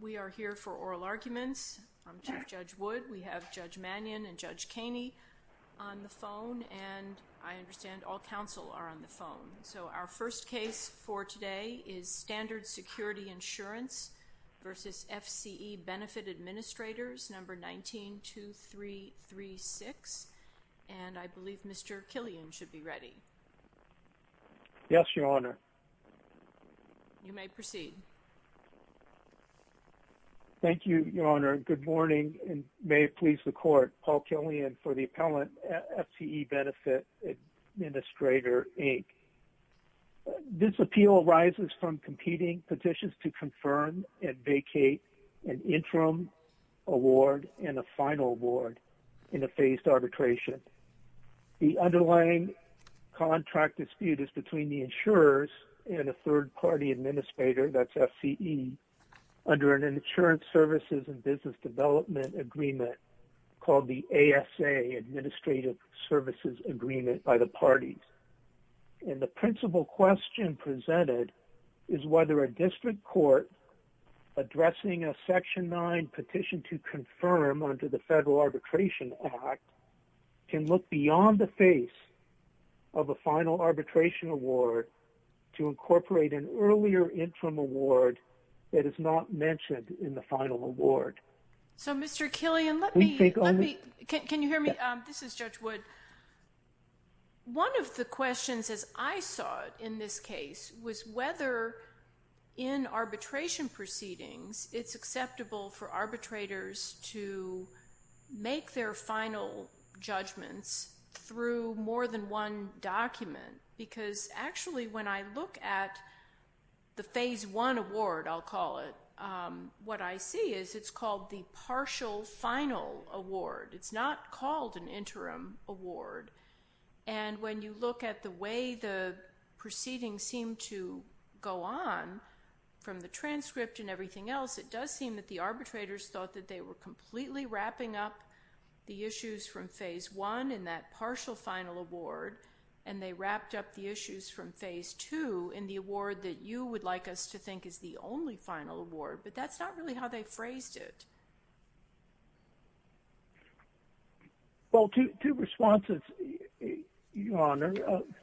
We are here for oral arguments. I'm Chief Judge Wood. We have Judge Mannion and Judge Caney on the phone, and I understand all counsel are on the phone. So our first case for today is Standard Security Insurance v. FCE Benefit Administrators, No. 19-2336, and I believe Mr. Killian should be ready. Yes, Your Honor. You may proceed. Thank you, Your Honor. Good morning, and may it please the Court, Paul Killian for the appellant, FCE Benefit Administrator, Inc. This appeal arises from competing petitions to confirm and vacate an interim award and a final award in a phased arbitration. The underlying contract dispute is between the insurers and a third-party administrator, that's FCE, under an insurance services and business development agreement called the ASA, Administrative Services Agreement, by the parties. And the principal question presented is whether a district court addressing a Section 9 petition to confirm under the Federal Arbitration Act can look beyond the face of a final arbitration award to incorporate an earlier interim award that is not mentioned in the final award. So, Mr. Killian, can you hear me? This is Judge Wood. It's called the partial final award. It's not called an interim award. And when you look at the way the proceedings seem to go on, from the transcript and everything else, it does seem that the arbitrators thought that they were completely wrapping up the issues from Phase 1 in that partial final award, and they wrapped up the issues from Phase 2 in the award that you would like us to think is the only final award. But that's not really how they phrased it. Well, two responses, Your Honor.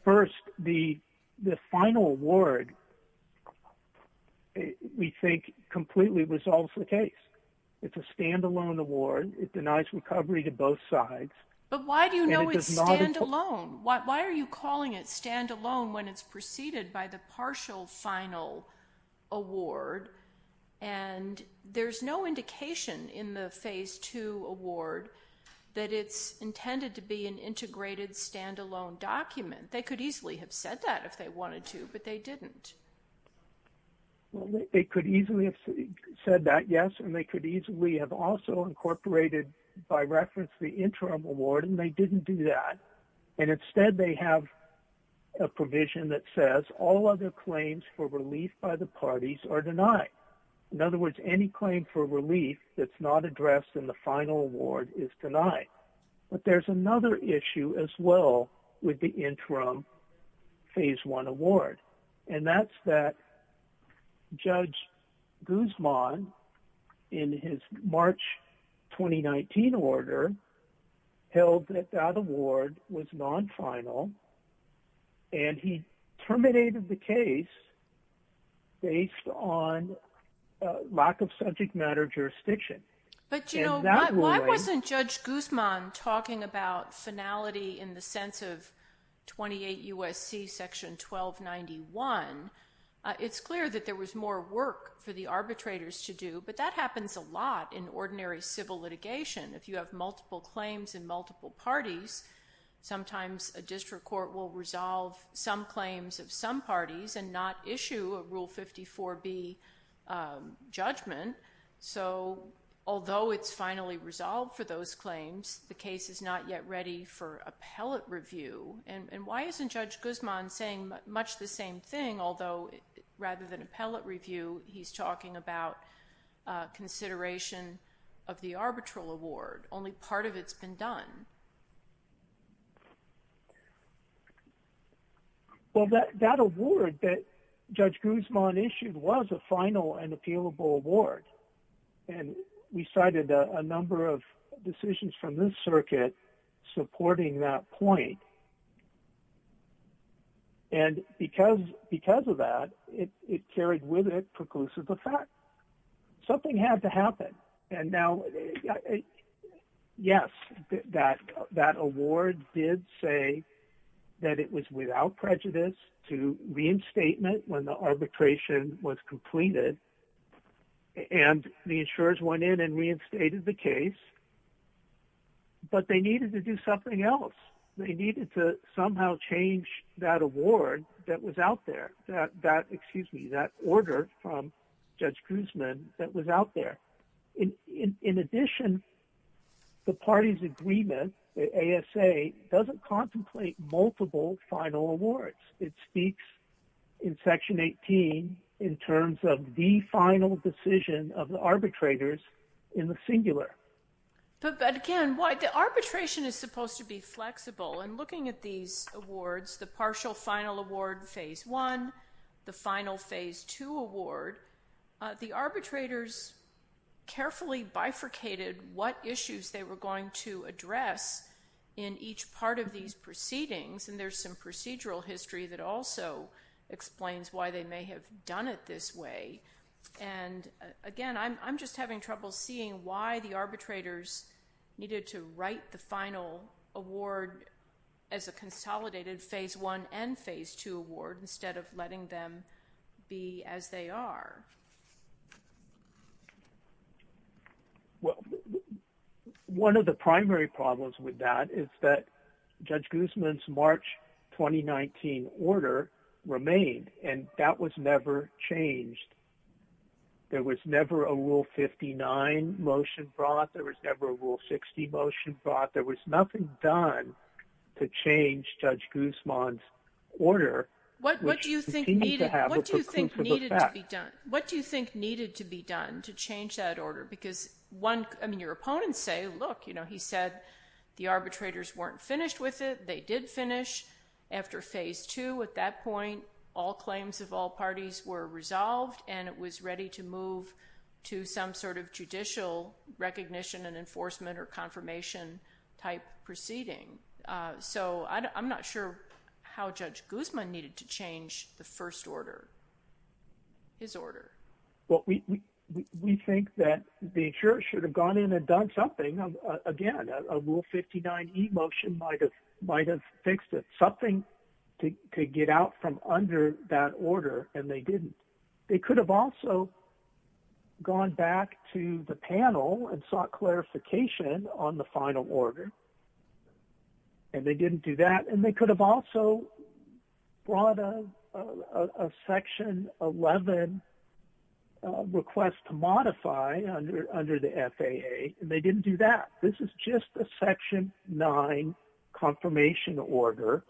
First, the final award, we think, completely resolves the case. It's a standalone award. It denies recovery to both sides. But why do you know it's standalone? Why are you calling it standalone when it's preceded by the partial final award? And there's no indication in the Phase 2 award that it's intended to be an integrated standalone document. They could easily have said that if they wanted to, but they didn't. They could easily have said that, yes, and they could easily have also incorporated by reference the interim award, and they didn't do that. And instead, they have a provision that says all other claims for relief by the parties are denied. In other words, any claim for relief that's not addressed in the final award is denied. But there's another issue as well with the interim Phase 1 award, and that's that Judge Guzman, in his March 2019 order, held that that award was non-final, and he terminated the case based on lack of subject matter jurisdiction. But why wasn't Judge Guzman talking about finality in the sense of 28 U.S.C. section 1291? It's clear that there was more work for the arbitrators to do, but that happens a lot in ordinary civil litigation. If you have multiple claims in multiple parties, sometimes a district court will resolve some claims of some parties and not issue a Rule 54B judgment. So although it's finally resolved for those claims, the case is not yet ready for appellate review. And why isn't Judge Guzman saying much the same thing, although rather than appellate review, he's talking about consideration of the arbitral award? Only part of it's been done. Well, that award that Judge Guzman issued was a final and appealable award, and we cited a number of decisions from this circuit supporting that point. And because of that, it carried with it preclusive effect. Something had to happen. And now, yes, that award did say that it was without prejudice to reinstatement when the arbitration was completed, and the insurers went in and reinstated the case, but they needed to do something else. They needed to somehow change that award that was out there, that order from Judge Guzman that was out there. In addition, the parties' agreement, the ASA, doesn't contemplate multiple final awards. It speaks in Section 18 in terms of the final decision of the arbitrators in the singular. But again, the arbitration is supposed to be flexible. And looking at these awards, the partial final award, Phase 1, the final Phase 2 award, the arbitrators carefully bifurcated what issues they were going to address in each part of these proceedings, and there's some procedural history that also explains why they may have done it this way. And again, I'm just having trouble seeing why the arbitrators needed to write the final award as a consolidated Phase 1 and Phase 2 award instead of letting them be as they are. Well, one of the primary problems with that is that Judge Guzman's March 2019 order remained, and that was never changed. There was never a Rule 59 motion brought. There was never a Rule 60 motion brought. There was nothing done to change Judge Guzman's order. What do you think needed to be done? What do you think needed to be done to change that order? Because your opponents say, look, he said the arbitrators weren't finished with it. They did finish after Phase 2. At that point, all claims of all parties were resolved, and it was ready to move to some sort of judicial recognition and enforcement or confirmation-type proceeding. So I'm not sure how Judge Guzman needed to change the first order, his order. Well, we think that the jurors should have gone in and done something. Again, a Rule 59 e-motion might have fixed it, something to get out from under that order, and they didn't. They could have also gone back to the panel and sought clarification on the final order, and they didn't do that. And they could have also brought a Section 11 request to modify under the FAA, and they didn't do that. This is just a Section 9 confirmation order,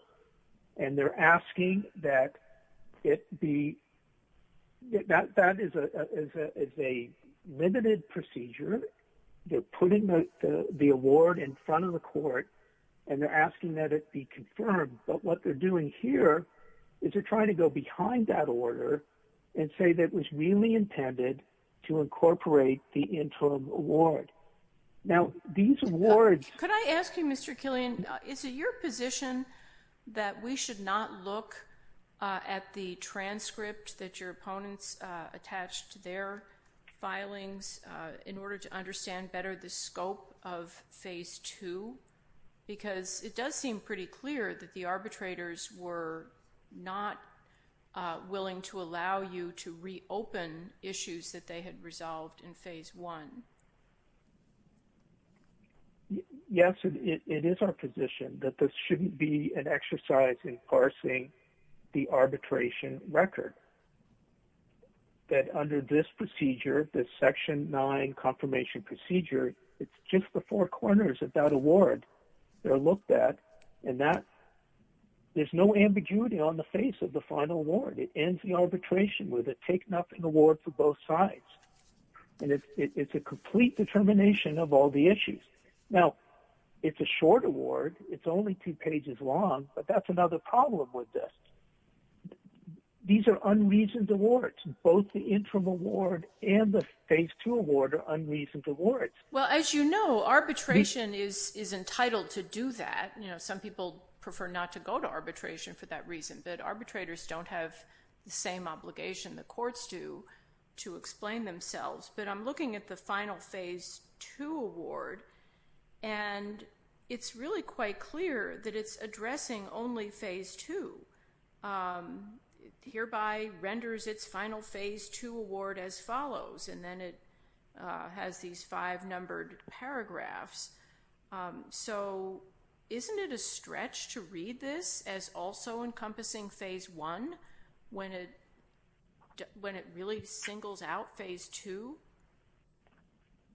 and they're asking that it be – that is a limited procedure. They're putting the award in front of the court, and they're asking that it be confirmed. But what they're doing here is they're trying to go behind that order and say that it was really intended to incorporate the interim award. Now, these awards – Could I ask you, Mr. Killian, is it your position that we should not look at the transcript that your opponents attached to their filings in order to understand better the scope of Phase 2? Because it does seem pretty clear that the arbitrators were not willing to allow you to reopen issues that they had resolved in Phase 1. Yes, it is our position that this shouldn't be an exercise in parsing the arbitration record, that under this procedure, this Section 9 confirmation procedure, it's just the four corners of that award that are looked at, and that – there's no ambiguity on the face of the final award. It ends the arbitration with it taking up an award for both sides, and it's a complete determination of all the issues. Now, it's a short award. It's only two pages long, but that's another problem with this. These are unreasoned awards. Both the interim award and the Phase 2 award are unreasoned awards. Well, as you know, arbitration is entitled to do that. You know, some people prefer not to go to arbitration for that reason, but arbitrators don't have the same obligation the courts do to explain themselves. But I'm looking at the final Phase 2 award, and it's really quite clear that it's addressing only Phase 2. It hereby renders its final Phase 2 award as follows, and then it has these five numbered paragraphs. So isn't it a stretch to read this as also encompassing Phase 1 when it really singles out Phase 2?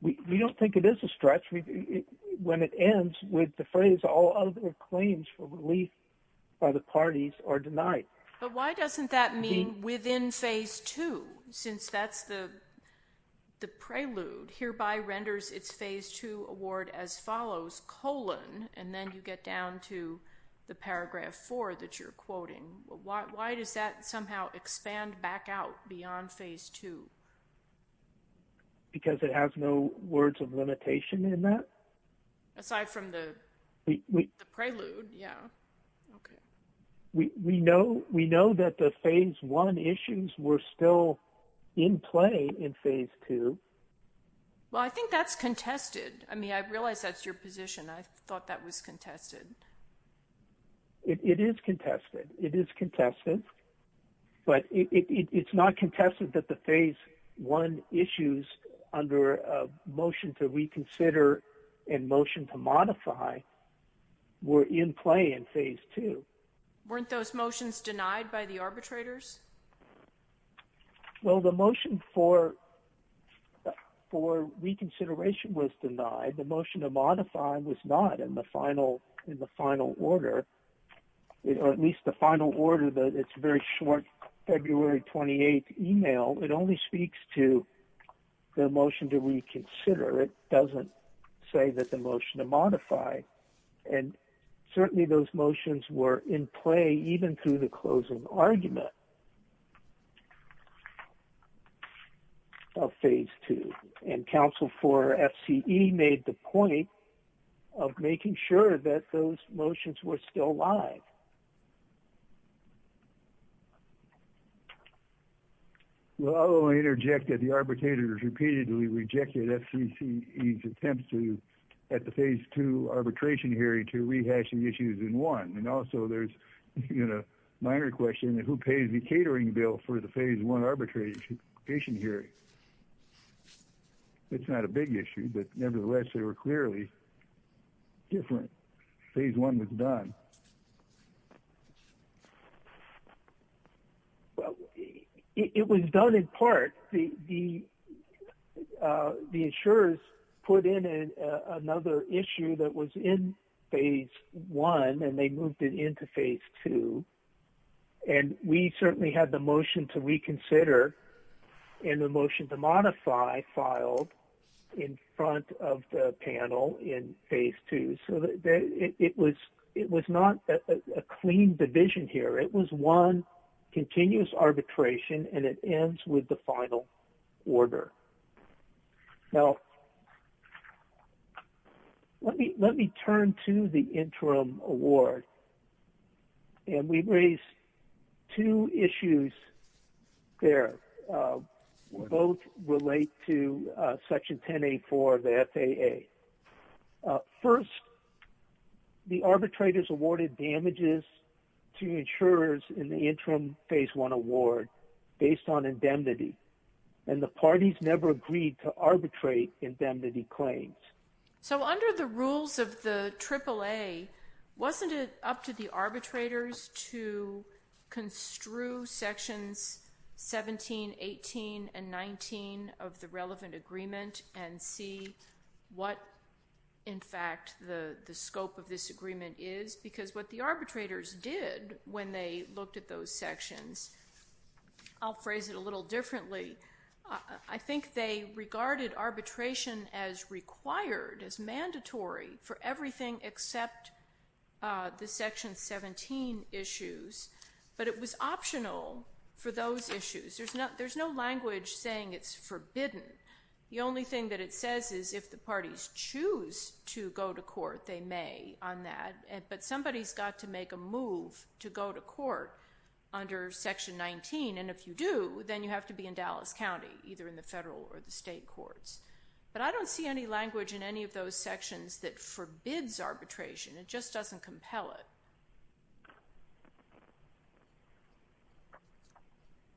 We don't think it is a stretch. When it ends with the phrase, all other claims for relief by the parties are denied. But why doesn't that mean within Phase 2, since that's the prelude? Hereby renders its Phase 2 award as follows, colon, and then you get down to the paragraph 4 that you're quoting. Why does that somehow expand back out beyond Phase 2? Because it has no words of limitation in that. Aside from the prelude, yeah. Okay. We know that the Phase 1 issues were still in play in Phase 2. Well, I think that's contested. I mean, I realize that's your position. I thought that was contested. It is contested. It is contested. But it's not contested that the Phase 1 issues under a motion to reconsider and motion to modify were in play in Phase 2. Weren't those motions denied by the arbitrators? Well, the motion for reconsideration was denied. The motion to modify was not in the final order. At least the final order, it's a very short February 28th email. It only speaks to the motion to reconsider. It doesn't say that the motion to modify. And certainly those motions were in play even through the closing argument of Phase 2. And counsel for FCE made the point of making sure that those motions were still alive. Well, I will interject that the arbitrators repeatedly rejected FCE's attempts at the Phase 2 arbitration hearing to rehash the issues in 1. And also there's a minor question of who pays the catering bill for the Phase 1 arbitration hearing. It's not a big issue, but nevertheless they were clearly different. Phase 1 was done. It was done in part. The insurers put in another issue that was in Phase 1 and they moved it into Phase 2. And we certainly had the motion to reconsider and the motion to modify filed in front of the panel in Phase 2. So it was not a clean division here. It was one continuous arbitration and it ends with the final order. Now, let me turn to the interim award. And we raised two issues there. Both relate to Section 1084 of the FAA. First, the arbitrators awarded damages to insurers in the interim Phase 1 award based on indemnity. And the parties never agreed to arbitrate indemnity claims. So under the rules of the AAA, wasn't it up to the arbitrators to construe Sections 17, 18, and 19 of the relevant agreement and see what, in fact, the scope of this agreement is? Because what the arbitrators did when they looked at those sections, I'll phrase it a little differently, I think they regarded arbitration as required, as mandatory for everything except the Section 17 issues. But it was optional for those issues. There's no language saying it's forbidden. The only thing that it says is if the parties choose to go to court, they may on that. But somebody's got to make a move to go to court under Section 19. And if you do, then you have to be in Dallas County, either in the federal or the state courts. But I don't see any language in any of those sections that forbids arbitration. It just doesn't compel it.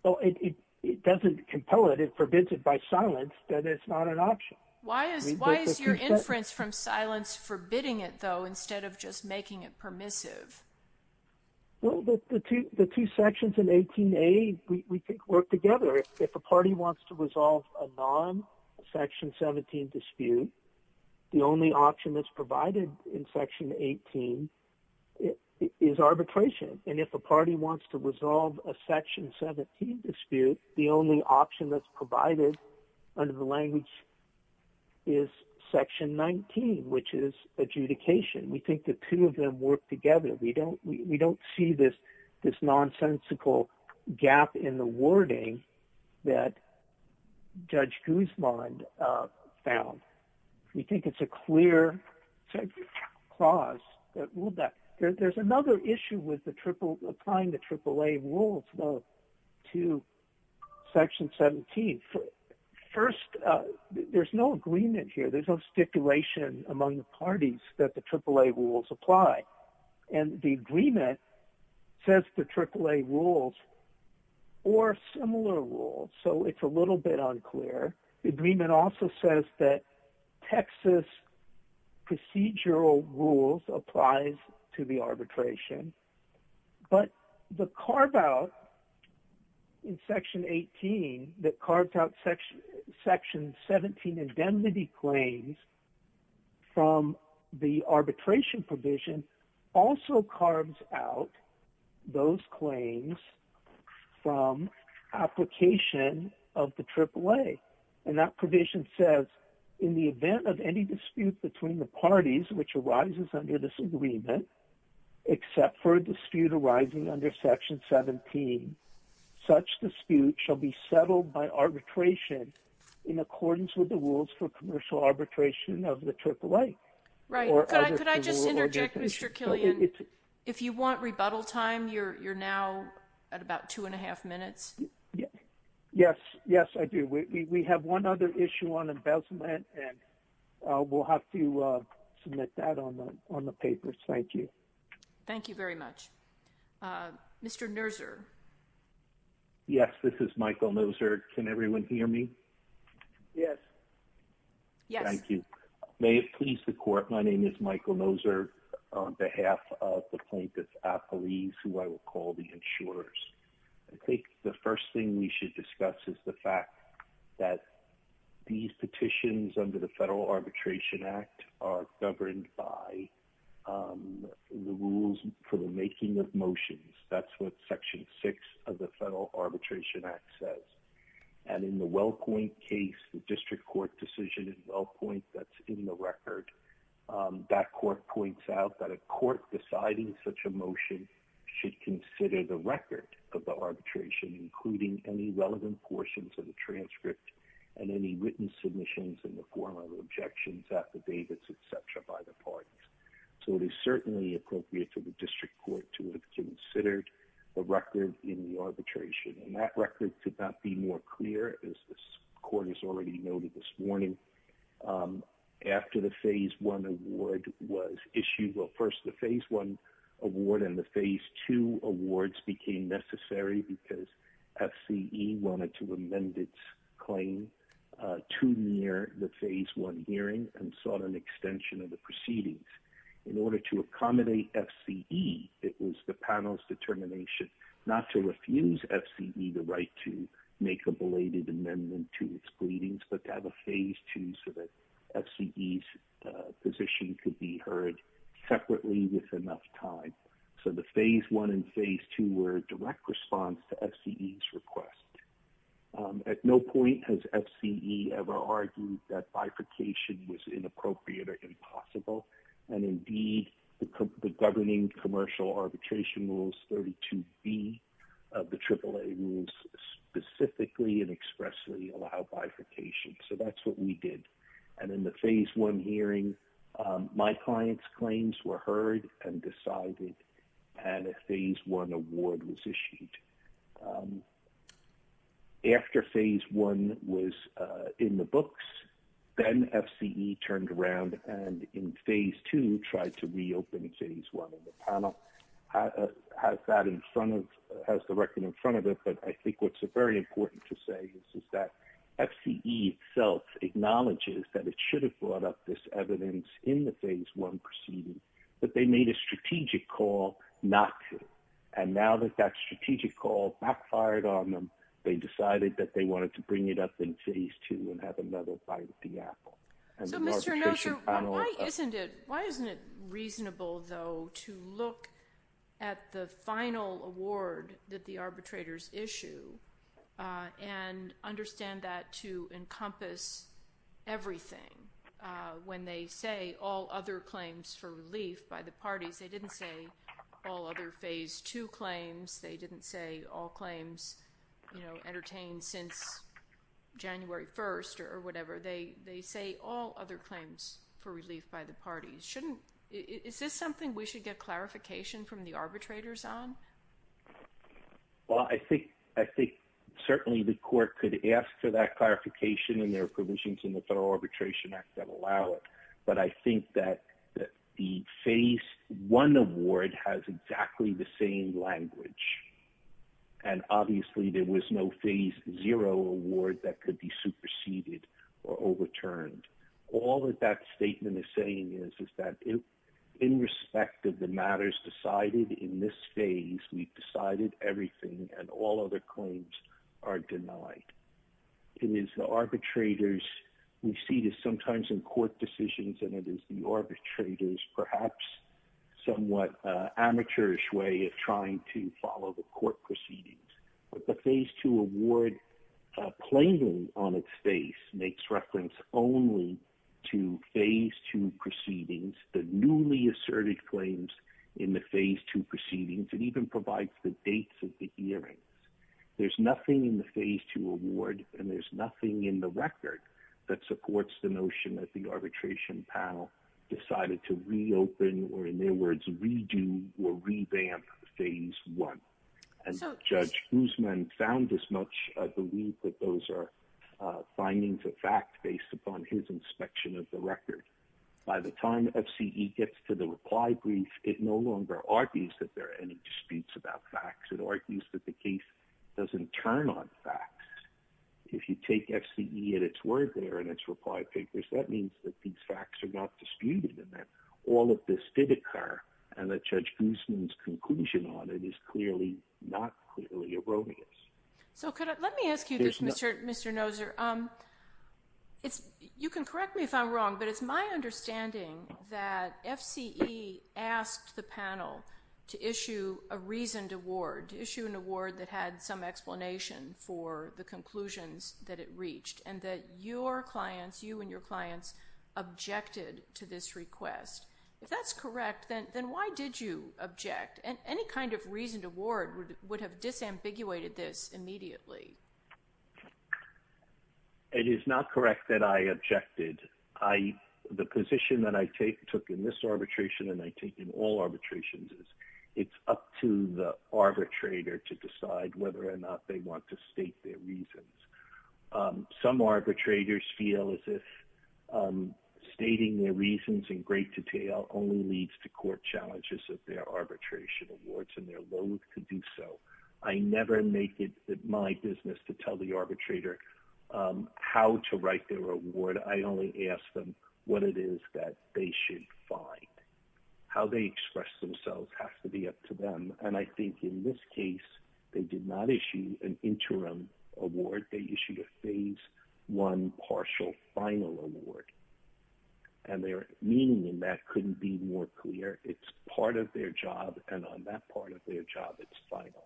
Well, it doesn't compel it. It forbids it by silence that it's not an option. Why is your inference from silence forbidding it, though, instead of just making it permissive? Well, the two sections in 18A we think work together. If a party wants to resolve a non-Section 17 dispute, the only option that's provided in Section 18 is arbitration. And if a party wants to resolve a Section 17 dispute, the only option that's provided under the language is Section 19, which is adjudication. We think the two of them work together. We don't see this nonsensical gap in the wording that Judge Guzman found. We think it's a clear clause that ruled that. There's another issue with applying the AAA rules to Section 17. First, there's no agreement here. There's no stipulation among the parties that the AAA rules apply. And the agreement says the AAA rules or similar rules, so it's a little bit unclear. The agreement also says that Texas procedural rules applies to the arbitration. But the carve-out in Section 18 that carved out Section 17 indemnity claims from the arbitration provision also carves out those claims from application of the AAA. And that provision says, in the event of any dispute between the parties which arises under this agreement, except for a dispute arising under Section 17, such dispute shall be settled by arbitration in accordance with the rules for commercial arbitration of the AAA. Right. Could I just interject, Mr. Killian? If you want rebuttal time, you're now at about two and a half minutes. Yes. Yes, I do. We have one other issue on embezzlement, and we'll have to submit that on the papers. Thank you. Thank you very much. Mr. Noser. Yes, this is Michael Noser. Can everyone hear me? Yes. Yes. Thank you. May it please the Court, my name is Michael Noser on behalf of the plaintiffs' apologies, who I will call the insurers. I think the first thing we should discuss is the fact that these petitions under the Federal Arbitration Act are governed by the rules for the making of motions. That's what Section 6 of the Federal Arbitration Act says. And in the Wellpoint case, the district court decision in Wellpoint that's in the record, that court points out that a court deciding such a motion should consider the record of the arbitration, including any relevant portions of the transcript and any written submissions in the form of objections, affidavits, etc., by the parties. So it is certainly appropriate for the district court to have considered the record in the arbitration. And that record could not be more clear, as the court has already noted this morning, after the Phase 1 award was issued. Well, first the Phase 1 award and the Phase 2 awards became necessary because FCE wanted to amend its claim to near the Phase 1 hearing and sought an extension of the proceedings. In order to accommodate FCE, it was the panel's determination not to refuse FCE the right to make a belated amendment to its proceedings, but to have a Phase 2 so that FCE's position could be heard separately with enough time. So the Phase 1 and Phase 2 were a direct response to FCE's request. At no point has FCE ever argued that bifurcation was inappropriate or impossible. And indeed, the governing commercial arbitration rules 32B of the AAA rules specifically and expressly allow bifurcation. So that's what we did. And in the Phase 1 hearing, my client's claims were heard and decided, and a Phase 1 award was issued. After Phase 1 was in the books, then FCE turned around and in Phase 2 tried to reopen Phase 1. And the panel has that in front of – has the record in front of it. But I think what's very important to say is that FCE itself acknowledges that it should have brought up this evidence in the Phase 1 proceedings, but they made a strategic call not to. And now that that strategic call backfired on them, they decided that they wanted to bring it up in Phase 2 and have another bite of the apple. So, Mr. Noser, why isn't it – why isn't it reasonable, though, to look at the final award that the arbitrators issue and understand that to encompass everything? When they say all other claims for relief by the parties, they didn't say all other Phase 2 claims. They didn't say all claims, you know, entertained since January 1st or whatever. They say all other claims for relief by the parties. Shouldn't – is this something we should get clarification from the arbitrators on? Well, I think – I think certainly the court could ask for that clarification and there are provisions in the Federal Arbitration Act that allow it. But I think that the Phase 1 award has exactly the same language. And obviously, there was no Phase 0 award that could be superseded or overturned. All that that statement is saying is, is that in respect of the matters decided in this phase, we've decided everything and all other claims are denied. It is the arbitrators' – we see this sometimes in court decisions and it is the arbitrators' perhaps somewhat amateurish way of trying to follow the court proceedings. But the Phase 2 award claiming on its face makes reference only to Phase 2 proceedings, the newly asserted claims in the Phase 2 proceedings. It even provides the dates of the hearings. There's nothing in the Phase 2 award and there's nothing in the record that supports the notion that the arbitration panel decided to reopen or, in their words, redo or revamp Phase 1. And Judge Guzman found as much of the week that those are findings of fact based upon his inspection of the record. By the time FCE gets to the reply brief, it no longer argues that there are any disputes about facts. It argues that the case doesn't turn on facts. If you take FCE at its word there in its reply papers, that means that these facts are not disputed and that all of this divot car and that Judge Guzman's conclusion on it is clearly not clearly erroneous. So let me ask you this, Mr. Noser. You can correct me if I'm wrong, but it's my understanding that FCE asked the panel to issue a reasoned award, to issue an award that had some explanation for the conclusions that it reached and that your clients, you and your clients, objected to this request. If that's correct, then why did you object? Any kind of reasoned award would have disambiguated this immediately. It is not correct that I objected. The position that I took in this arbitration and I take in all arbitrations is it's up to the arbitrator to decide whether or not they want to state their reasons. Some arbitrators feel as if stating their reasons in great detail only leads to court challenges of their arbitration awards and they're loath to do so. I never make it my business to tell the arbitrator how to write their award. I only ask them what it is that they should find. How they express themselves has to be up to them. And I think in this case, they did not issue an interim award. They issued a phase one partial final award. And their meaning in that couldn't be more clear. It's part of their job and on that part of their job it's final.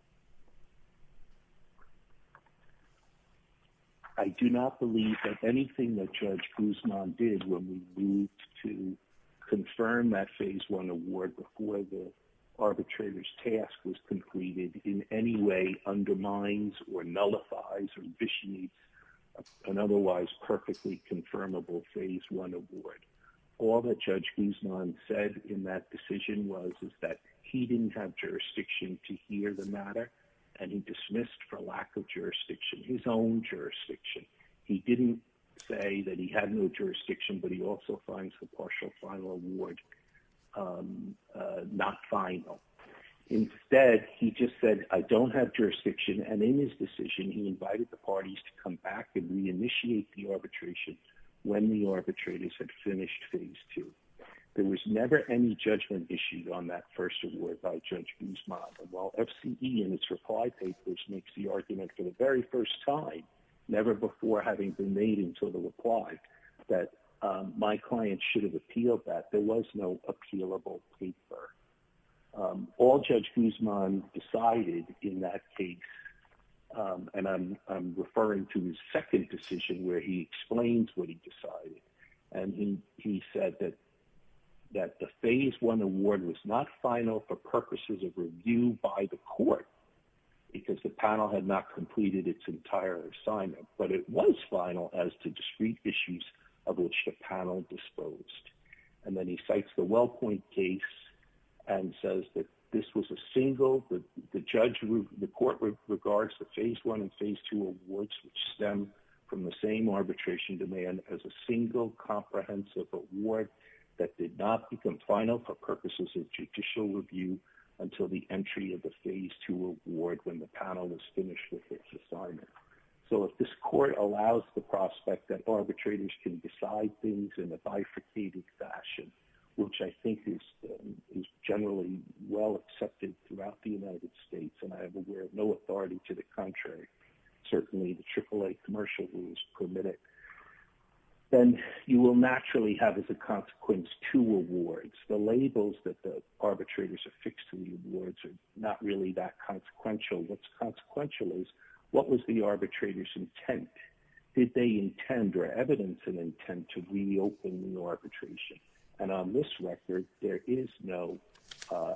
I do not believe that anything that Judge Guzman did when we moved to confirm that phase one award before the arbitrator's task was completed in any way undermines or nullifies or vitiates an otherwise perfectly confirmable phase one award. All that Judge Guzman said in that decision was that he didn't have jurisdiction to hear the matter and he dismissed for lack of jurisdiction, his own jurisdiction. He didn't say that he had no jurisdiction, but he also finds the partial final award not final. Instead, he just said, I don't have jurisdiction. And in his decision, he invited the parties to come back and reinitiate the arbitration when the arbitrators had finished phase two. There was never any judgment issued on that first award by Judge Guzman. While FCE in its reply papers makes the argument for the very first time, never before having been made until the reply, that my client should have appealed that, there was no appealable paper. All Judge Guzman decided in that case, and I'm referring to his second decision where he explains what he decided. And he said that the phase one award was not final for purposes of review by the court because the panel had not completed its entire assignment, but it was final as to discrete issues of which the panel disposed. And then he cites the WellPoint case and says that this was a single, the court regards the phase one and phase two awards which stem from the same arbitration demand as a single comprehensive award that did not become final for purposes of judicial review until the entry of the phase two award when the panel was finished with its assignment. So if this court allows the prospect that arbitrators can decide things in a bifurcated fashion, which I think is generally well accepted throughout the United States, and I am aware of no authority to the contrary, certainly the AAA commercial rules permit it, then you will naturally have as a consequence two awards. The labels that the arbitrators affix to the awards are not really that consequential. What's consequential is, what was the arbitrator's intent? Did they intend or evidence an intent to reopen the arbitration? And on this record, there is no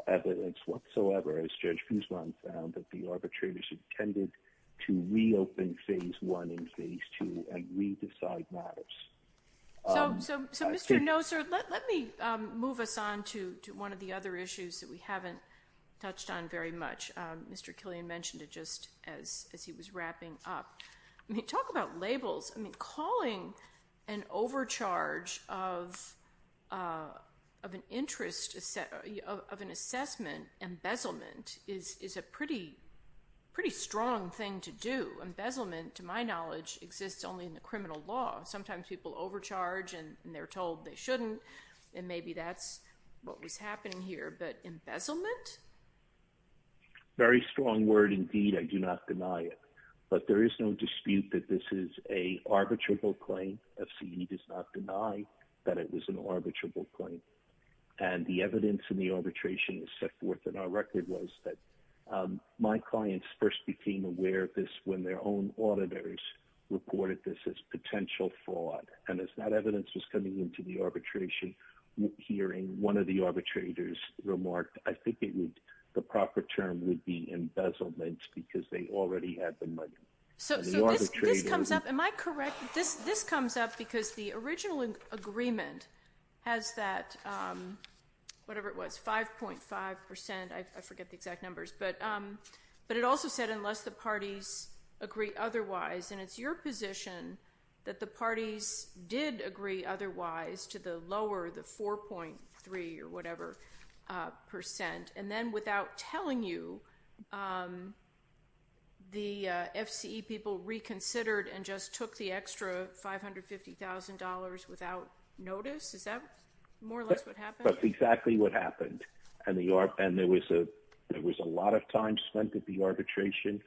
evidence whatsoever, as Judge Guzman found, that the arbitrators intended to reopen phase one and phase two and re-decide matters. So Mr. Noser, let me move us on to one of the other issues that we haven't touched on very much. Mr. Killian mentioned it just as he was wrapping up. I mean, talk about labels. I mean, calling an overcharge of an interest, of an assessment embezzlement is a pretty strong thing to do. Embezzlement, to my knowledge, exists only in the criminal law. Sometimes people overcharge and they're told they shouldn't, and maybe that's what was happening here. But embezzlement? Very strong word indeed. I do not deny it. But there is no dispute that this is an arbitrable claim. FCE does not deny that it was an arbitrable claim. And the evidence in the arbitration is set forth in our record was that my clients first became aware of this when their own auditors reported this as potential fraud. And as that evidence was coming into the arbitration hearing, one of the arbitrators remarked, I think the proper term would be embezzlement because they already had the money. So this comes up. Am I correct? This comes up because the original agreement has that, whatever it was, 5.5 percent. I forget the exact numbers. But it also said unless the parties agree otherwise, and it's your position that the parties did agree otherwise to the lower, the 4.3 or whatever percent. And then without telling you, the FCE people reconsidered and just took the extra $550,000 without notice. Is that more or less what happened? That's exactly what happened. And there was a lot of time spent at the arbitration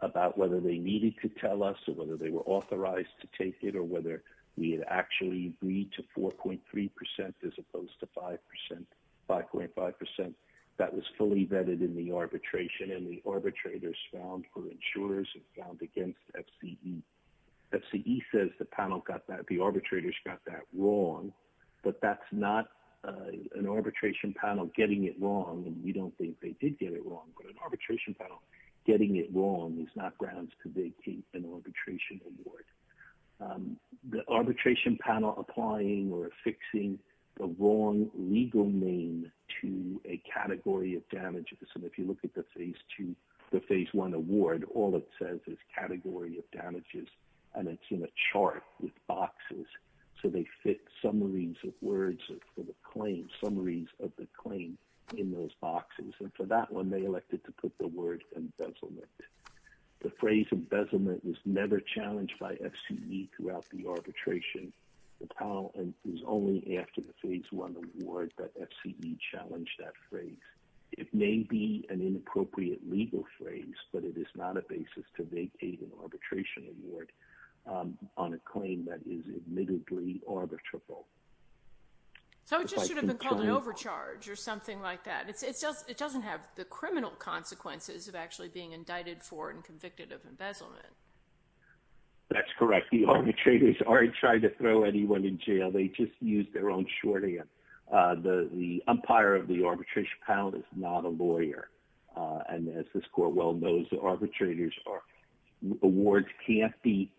about whether they needed to tell us or whether they were authorized to take it or whether we had actually agreed to 4.3 percent as opposed to 5 percent, 5.5 percent. That was fully vetted in the arbitration and the arbitrators found for insurers and found against FCE. The FCE says the panel got that, the arbitrators got that wrong, but that's not an arbitration panel getting it wrong. And we don't think they did get it wrong, but an arbitration panel getting it wrong is not grounds to vacate an arbitration award. The arbitration panel applying or affixing the wrong legal name to a category of damages. And if you look at the phase two, the phase one award, all it says is category of damages, and it's in a chart with boxes. So they fit summaries of words for the claim, summaries of the claim in those boxes. And for that one, they elected to put the word embezzlement. The phrase embezzlement was never challenged by FCE throughout the arbitration. The panel is only after the phase one award that FCE challenged that phrase. It may be an inappropriate legal phrase, but it is not a basis to vacate an arbitration award on a claim that is admittedly arbitrable. So it just should have been called an overcharge or something like that. It doesn't have the criminal consequences of actually being indicted for and convicted of embezzlement. That's correct. The arbitrators aren't trying to throw anyone in jail. They just use their own shorthand. The umpire of the arbitration panel is not a lawyer. And as this court well knows, the arbitrators' awards can't be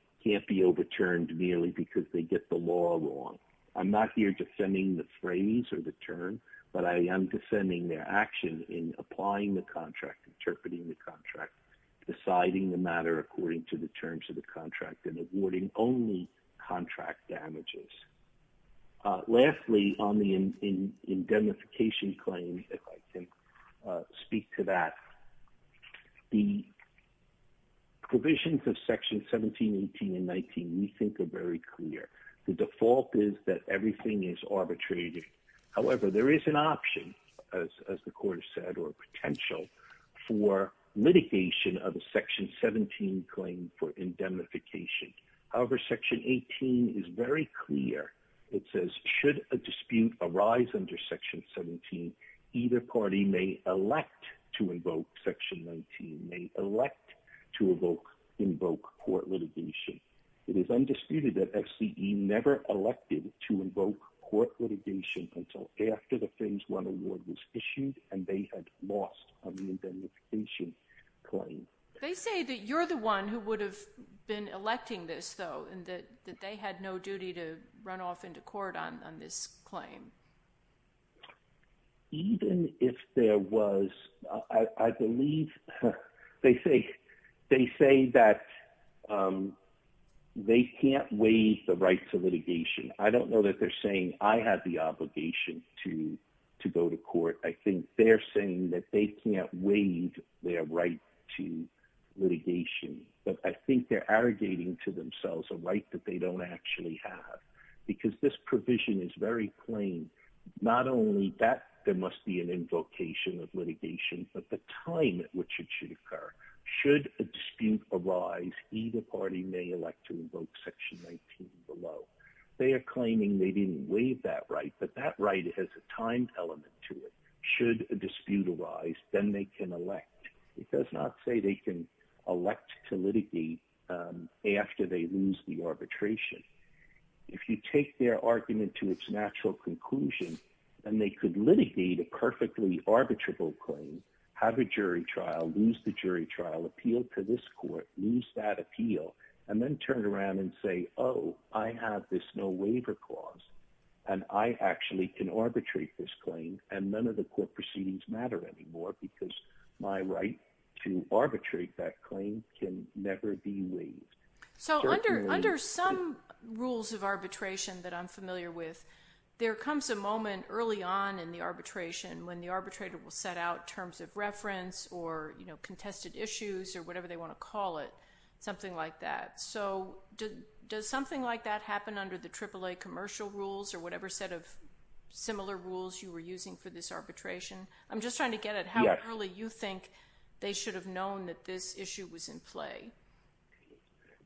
overturned merely because they get the law wrong. I'm not here defending the phrase or the term, but I am defending their action in applying the contract, interpreting the contract, deciding the matter according to the terms of the contract, and awarding only contract damages. Lastly, on the indemnification claim, if I can speak to that, the provisions of Section 17, 18, and 19 we think are very clear. The default is that everything is arbitrated. However, there is an option, as the court has said, or potential for litigation of a Section 17 claim for indemnification. However, Section 18 is very clear. It says, should a dispute arise under Section 17, either party may elect to invoke Section 19, may elect to invoke court litigation. It is undisputed that FCE never elected to invoke court litigation until after the Fins 1 award was issued and they had lost on the indemnification claim. They say that you're the one who would have been electing this, though, and that they had no duty to run off into court on this claim. Even if there was, I believe, they say that they can't waive the right to litigation. I don't know that they're saying I have the obligation to go to court. I think they're saying that they can't waive their right to litigation. I think they're arrogating to themselves a right that they don't actually have, because this provision is very plain. Not only that there must be an invocation of litigation, but the time at which it should occur. Should a dispute arise, either party may elect to invoke Section 19 below. They are claiming they didn't waive that right, but that right has a time element to it. Should a dispute arise, then they can elect. It does not say they can elect to litigate after they lose the arbitration. If you take their argument to its natural conclusion, then they could litigate a perfectly arbitrable claim, have a jury trial, lose the jury trial, appeal to this court, lose that appeal, and then turn around and say, oh, I have this no waiver clause. I actually can arbitrate this claim, and none of the court proceedings matter anymore, because my right to arbitrate that claim can never be waived. So under some rules of arbitration that I'm familiar with, there comes a moment early on in the arbitration when the arbitrator will set out terms of reference or contested issues or whatever they want to call it, something like that. So does something like that happen under the AAA commercial rules or whatever set of similar rules you were using for this arbitration? I'm just trying to get at how early you think they should have known that this issue was in play.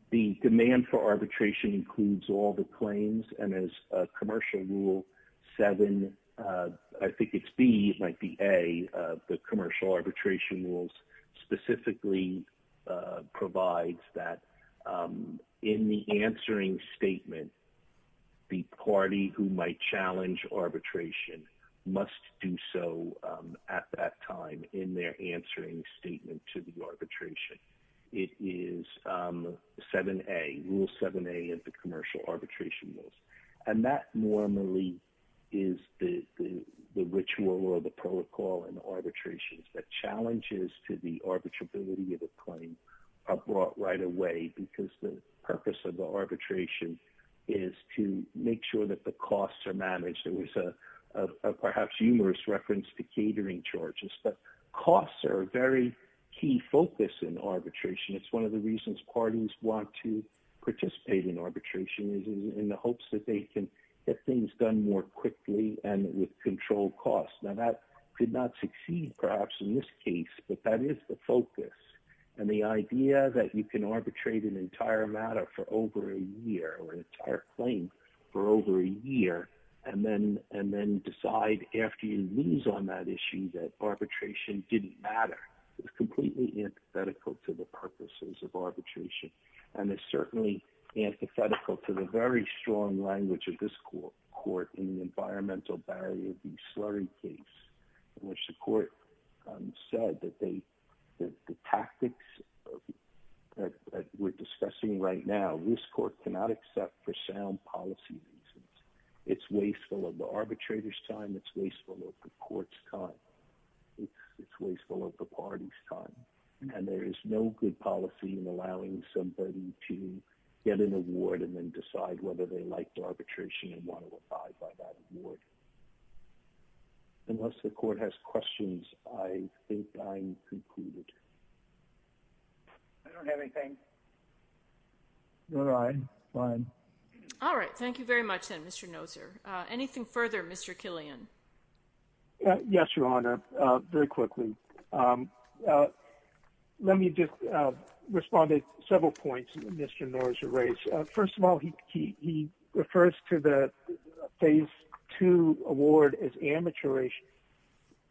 The demand for arbitration includes all the claims, and as Commercial Rule 7, I think it's B, it might be A, the Commercial Arbitration Rules specifically provides that in the answering statement, the party who might challenge arbitration must do so at that time in their answering statement to the arbitration. It is 7A, Rule 7A of the Commercial Arbitration Rules, and that normally is the ritual or the protocol in arbitrations. The challenges to the arbitrability of a claim are brought right away because the purpose of the arbitration is to make sure that the costs are managed. There was a perhaps humorous reference to catering charges, but costs are a very key focus in arbitration. It's one of the reasons parties want to participate in arbitration is in the hopes that they can get things done more quickly and with controlled costs. Now, that did not succeed perhaps in this case, but that is the focus. And the idea that you can arbitrate an entire matter for over a year or an entire claim for over a year and then decide after you lose on that issue that arbitration didn't matter is completely antithetical to the purposes of arbitration. And it's certainly antithetical to the very strong language of this court in the environmental barrier of the slurry case in which the court said that the tactics that we're discussing right now, this court cannot accept for sound policy reasons. It's wasteful of the arbitrator's time. It's wasteful of the court's time. It's wasteful of the party's time. And there is no good policy in allowing somebody to get an award and then decide whether they like the arbitration and want to abide by that award. Unless the court has questions, I think I'm concluded. I don't have anything. All right, fine. All right. Thank you very much, then, Mr. Noser. Anything further, Mr. Killian? Yes, Your Honor. Very quickly. Let me just respond to several points that Mr. Noser raised. First of all, he refers to the Phase 2 award as amateurish,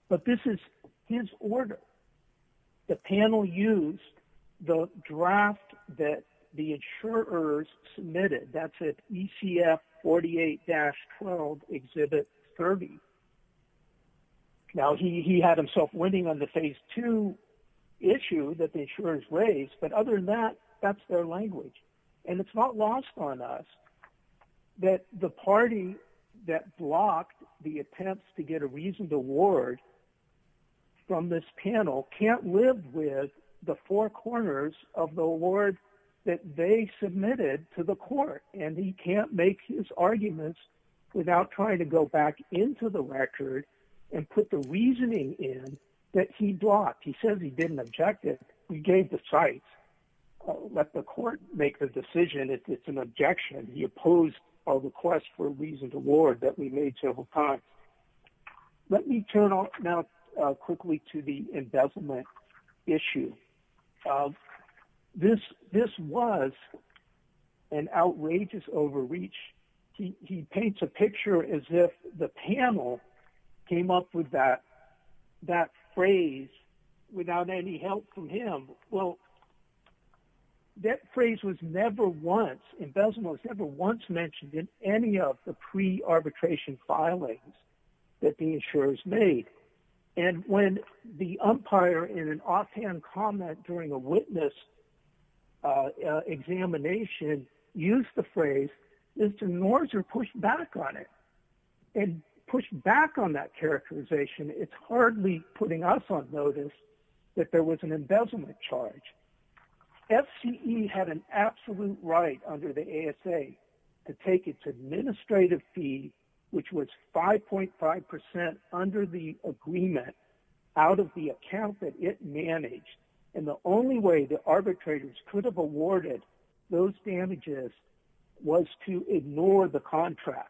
but this is his order. The panel used the draft that the insurers submitted. That's at ECF 48-12, Exhibit 30. Now, he had himself winning on the Phase 2 issue that the insurers raised, but other than that, that's their language. And it's not lost on us that the party that blocked the attempts to get a reasoned award from this panel can't live with the four corners of the award that they submitted to the court. And he can't make his arguments without trying to go back into the record and put the reasoning in that he blocked. He says he didn't object it. We gave the sites. Let the court make the decision if it's an objection. He opposed our request for a reasoned award that we made several times. Let me turn now quickly to the embezzlement issue. This was an outrageous overreach. He paints a picture as if the panel came up with that phrase without any help from him. Well, that phrase was never once, embezzlement was never once mentioned in any of the pre-arbitration filings that the insurers made. And when the umpire in an offhand comment during a witness examination used the phrase, Mr. Norzer pushed back on it and pushed back on that characterization. It's hardly putting us on notice that there was an embezzlement charge. FCE had an absolute right under the ASA to take its administrative fee, which was 5.5% under the agreement, out of the account that it managed. And the only way the arbitrators could have awarded those damages was to ignore the contract.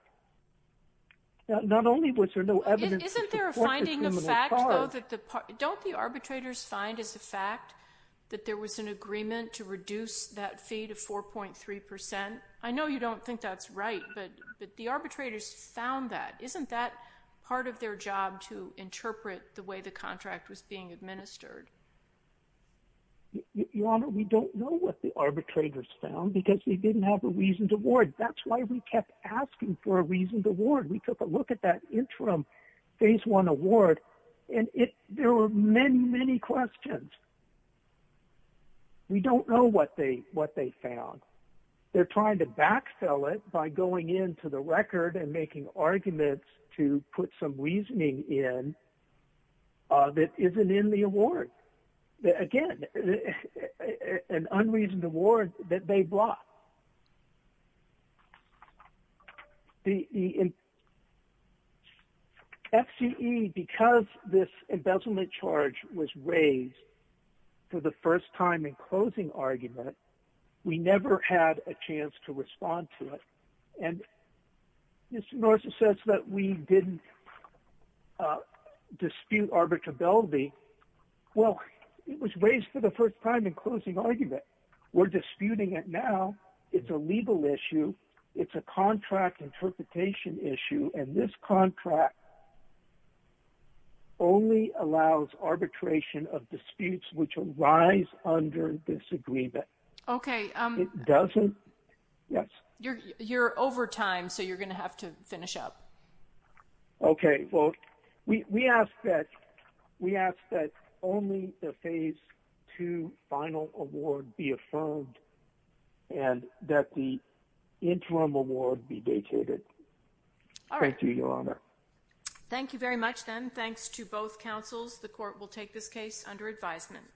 Not only was there no evidence to support the criminal charge... Isn't there a finding of fact, though, that the... Don't the arbitrators find as a fact that there was an agreement to reduce that fee to 4.3%? I know you don't think that's right, but the arbitrators found that. Isn't that part of their job to interpret the way the contract was being administered? Your Honor, we don't know what the arbitrators found because we didn't have a reasoned award. That's why we kept asking for a reasoned award. We took a look at that interim Phase I award, and there were many, many questions. We don't know what they found. They're trying to backfill it by going into the record and making arguments to put some reasoning in that isn't in the award. Again, an unreasoned award that they brought. The... FCE, because this embezzlement charge was raised for the first time in closing argument, we never had a chance to respond to it. And Mr. Norris says that we didn't dispute arbitrability. Well, it was raised for the first time in closing argument. We're disputing it now. It's a legal issue. It's a contract interpretation issue, and this contract only allows arbitration of disputes which arise under disagreement. Okay. It doesn't... Yes? You're over time, so you're going to have to finish up. Okay. Well, we ask that only the Phase II final award be affirmed and that the interim award be dated. All right. Thank you, Your Honor. Thank you very much, then. Thanks to both counsels. The court will take this case under advisement.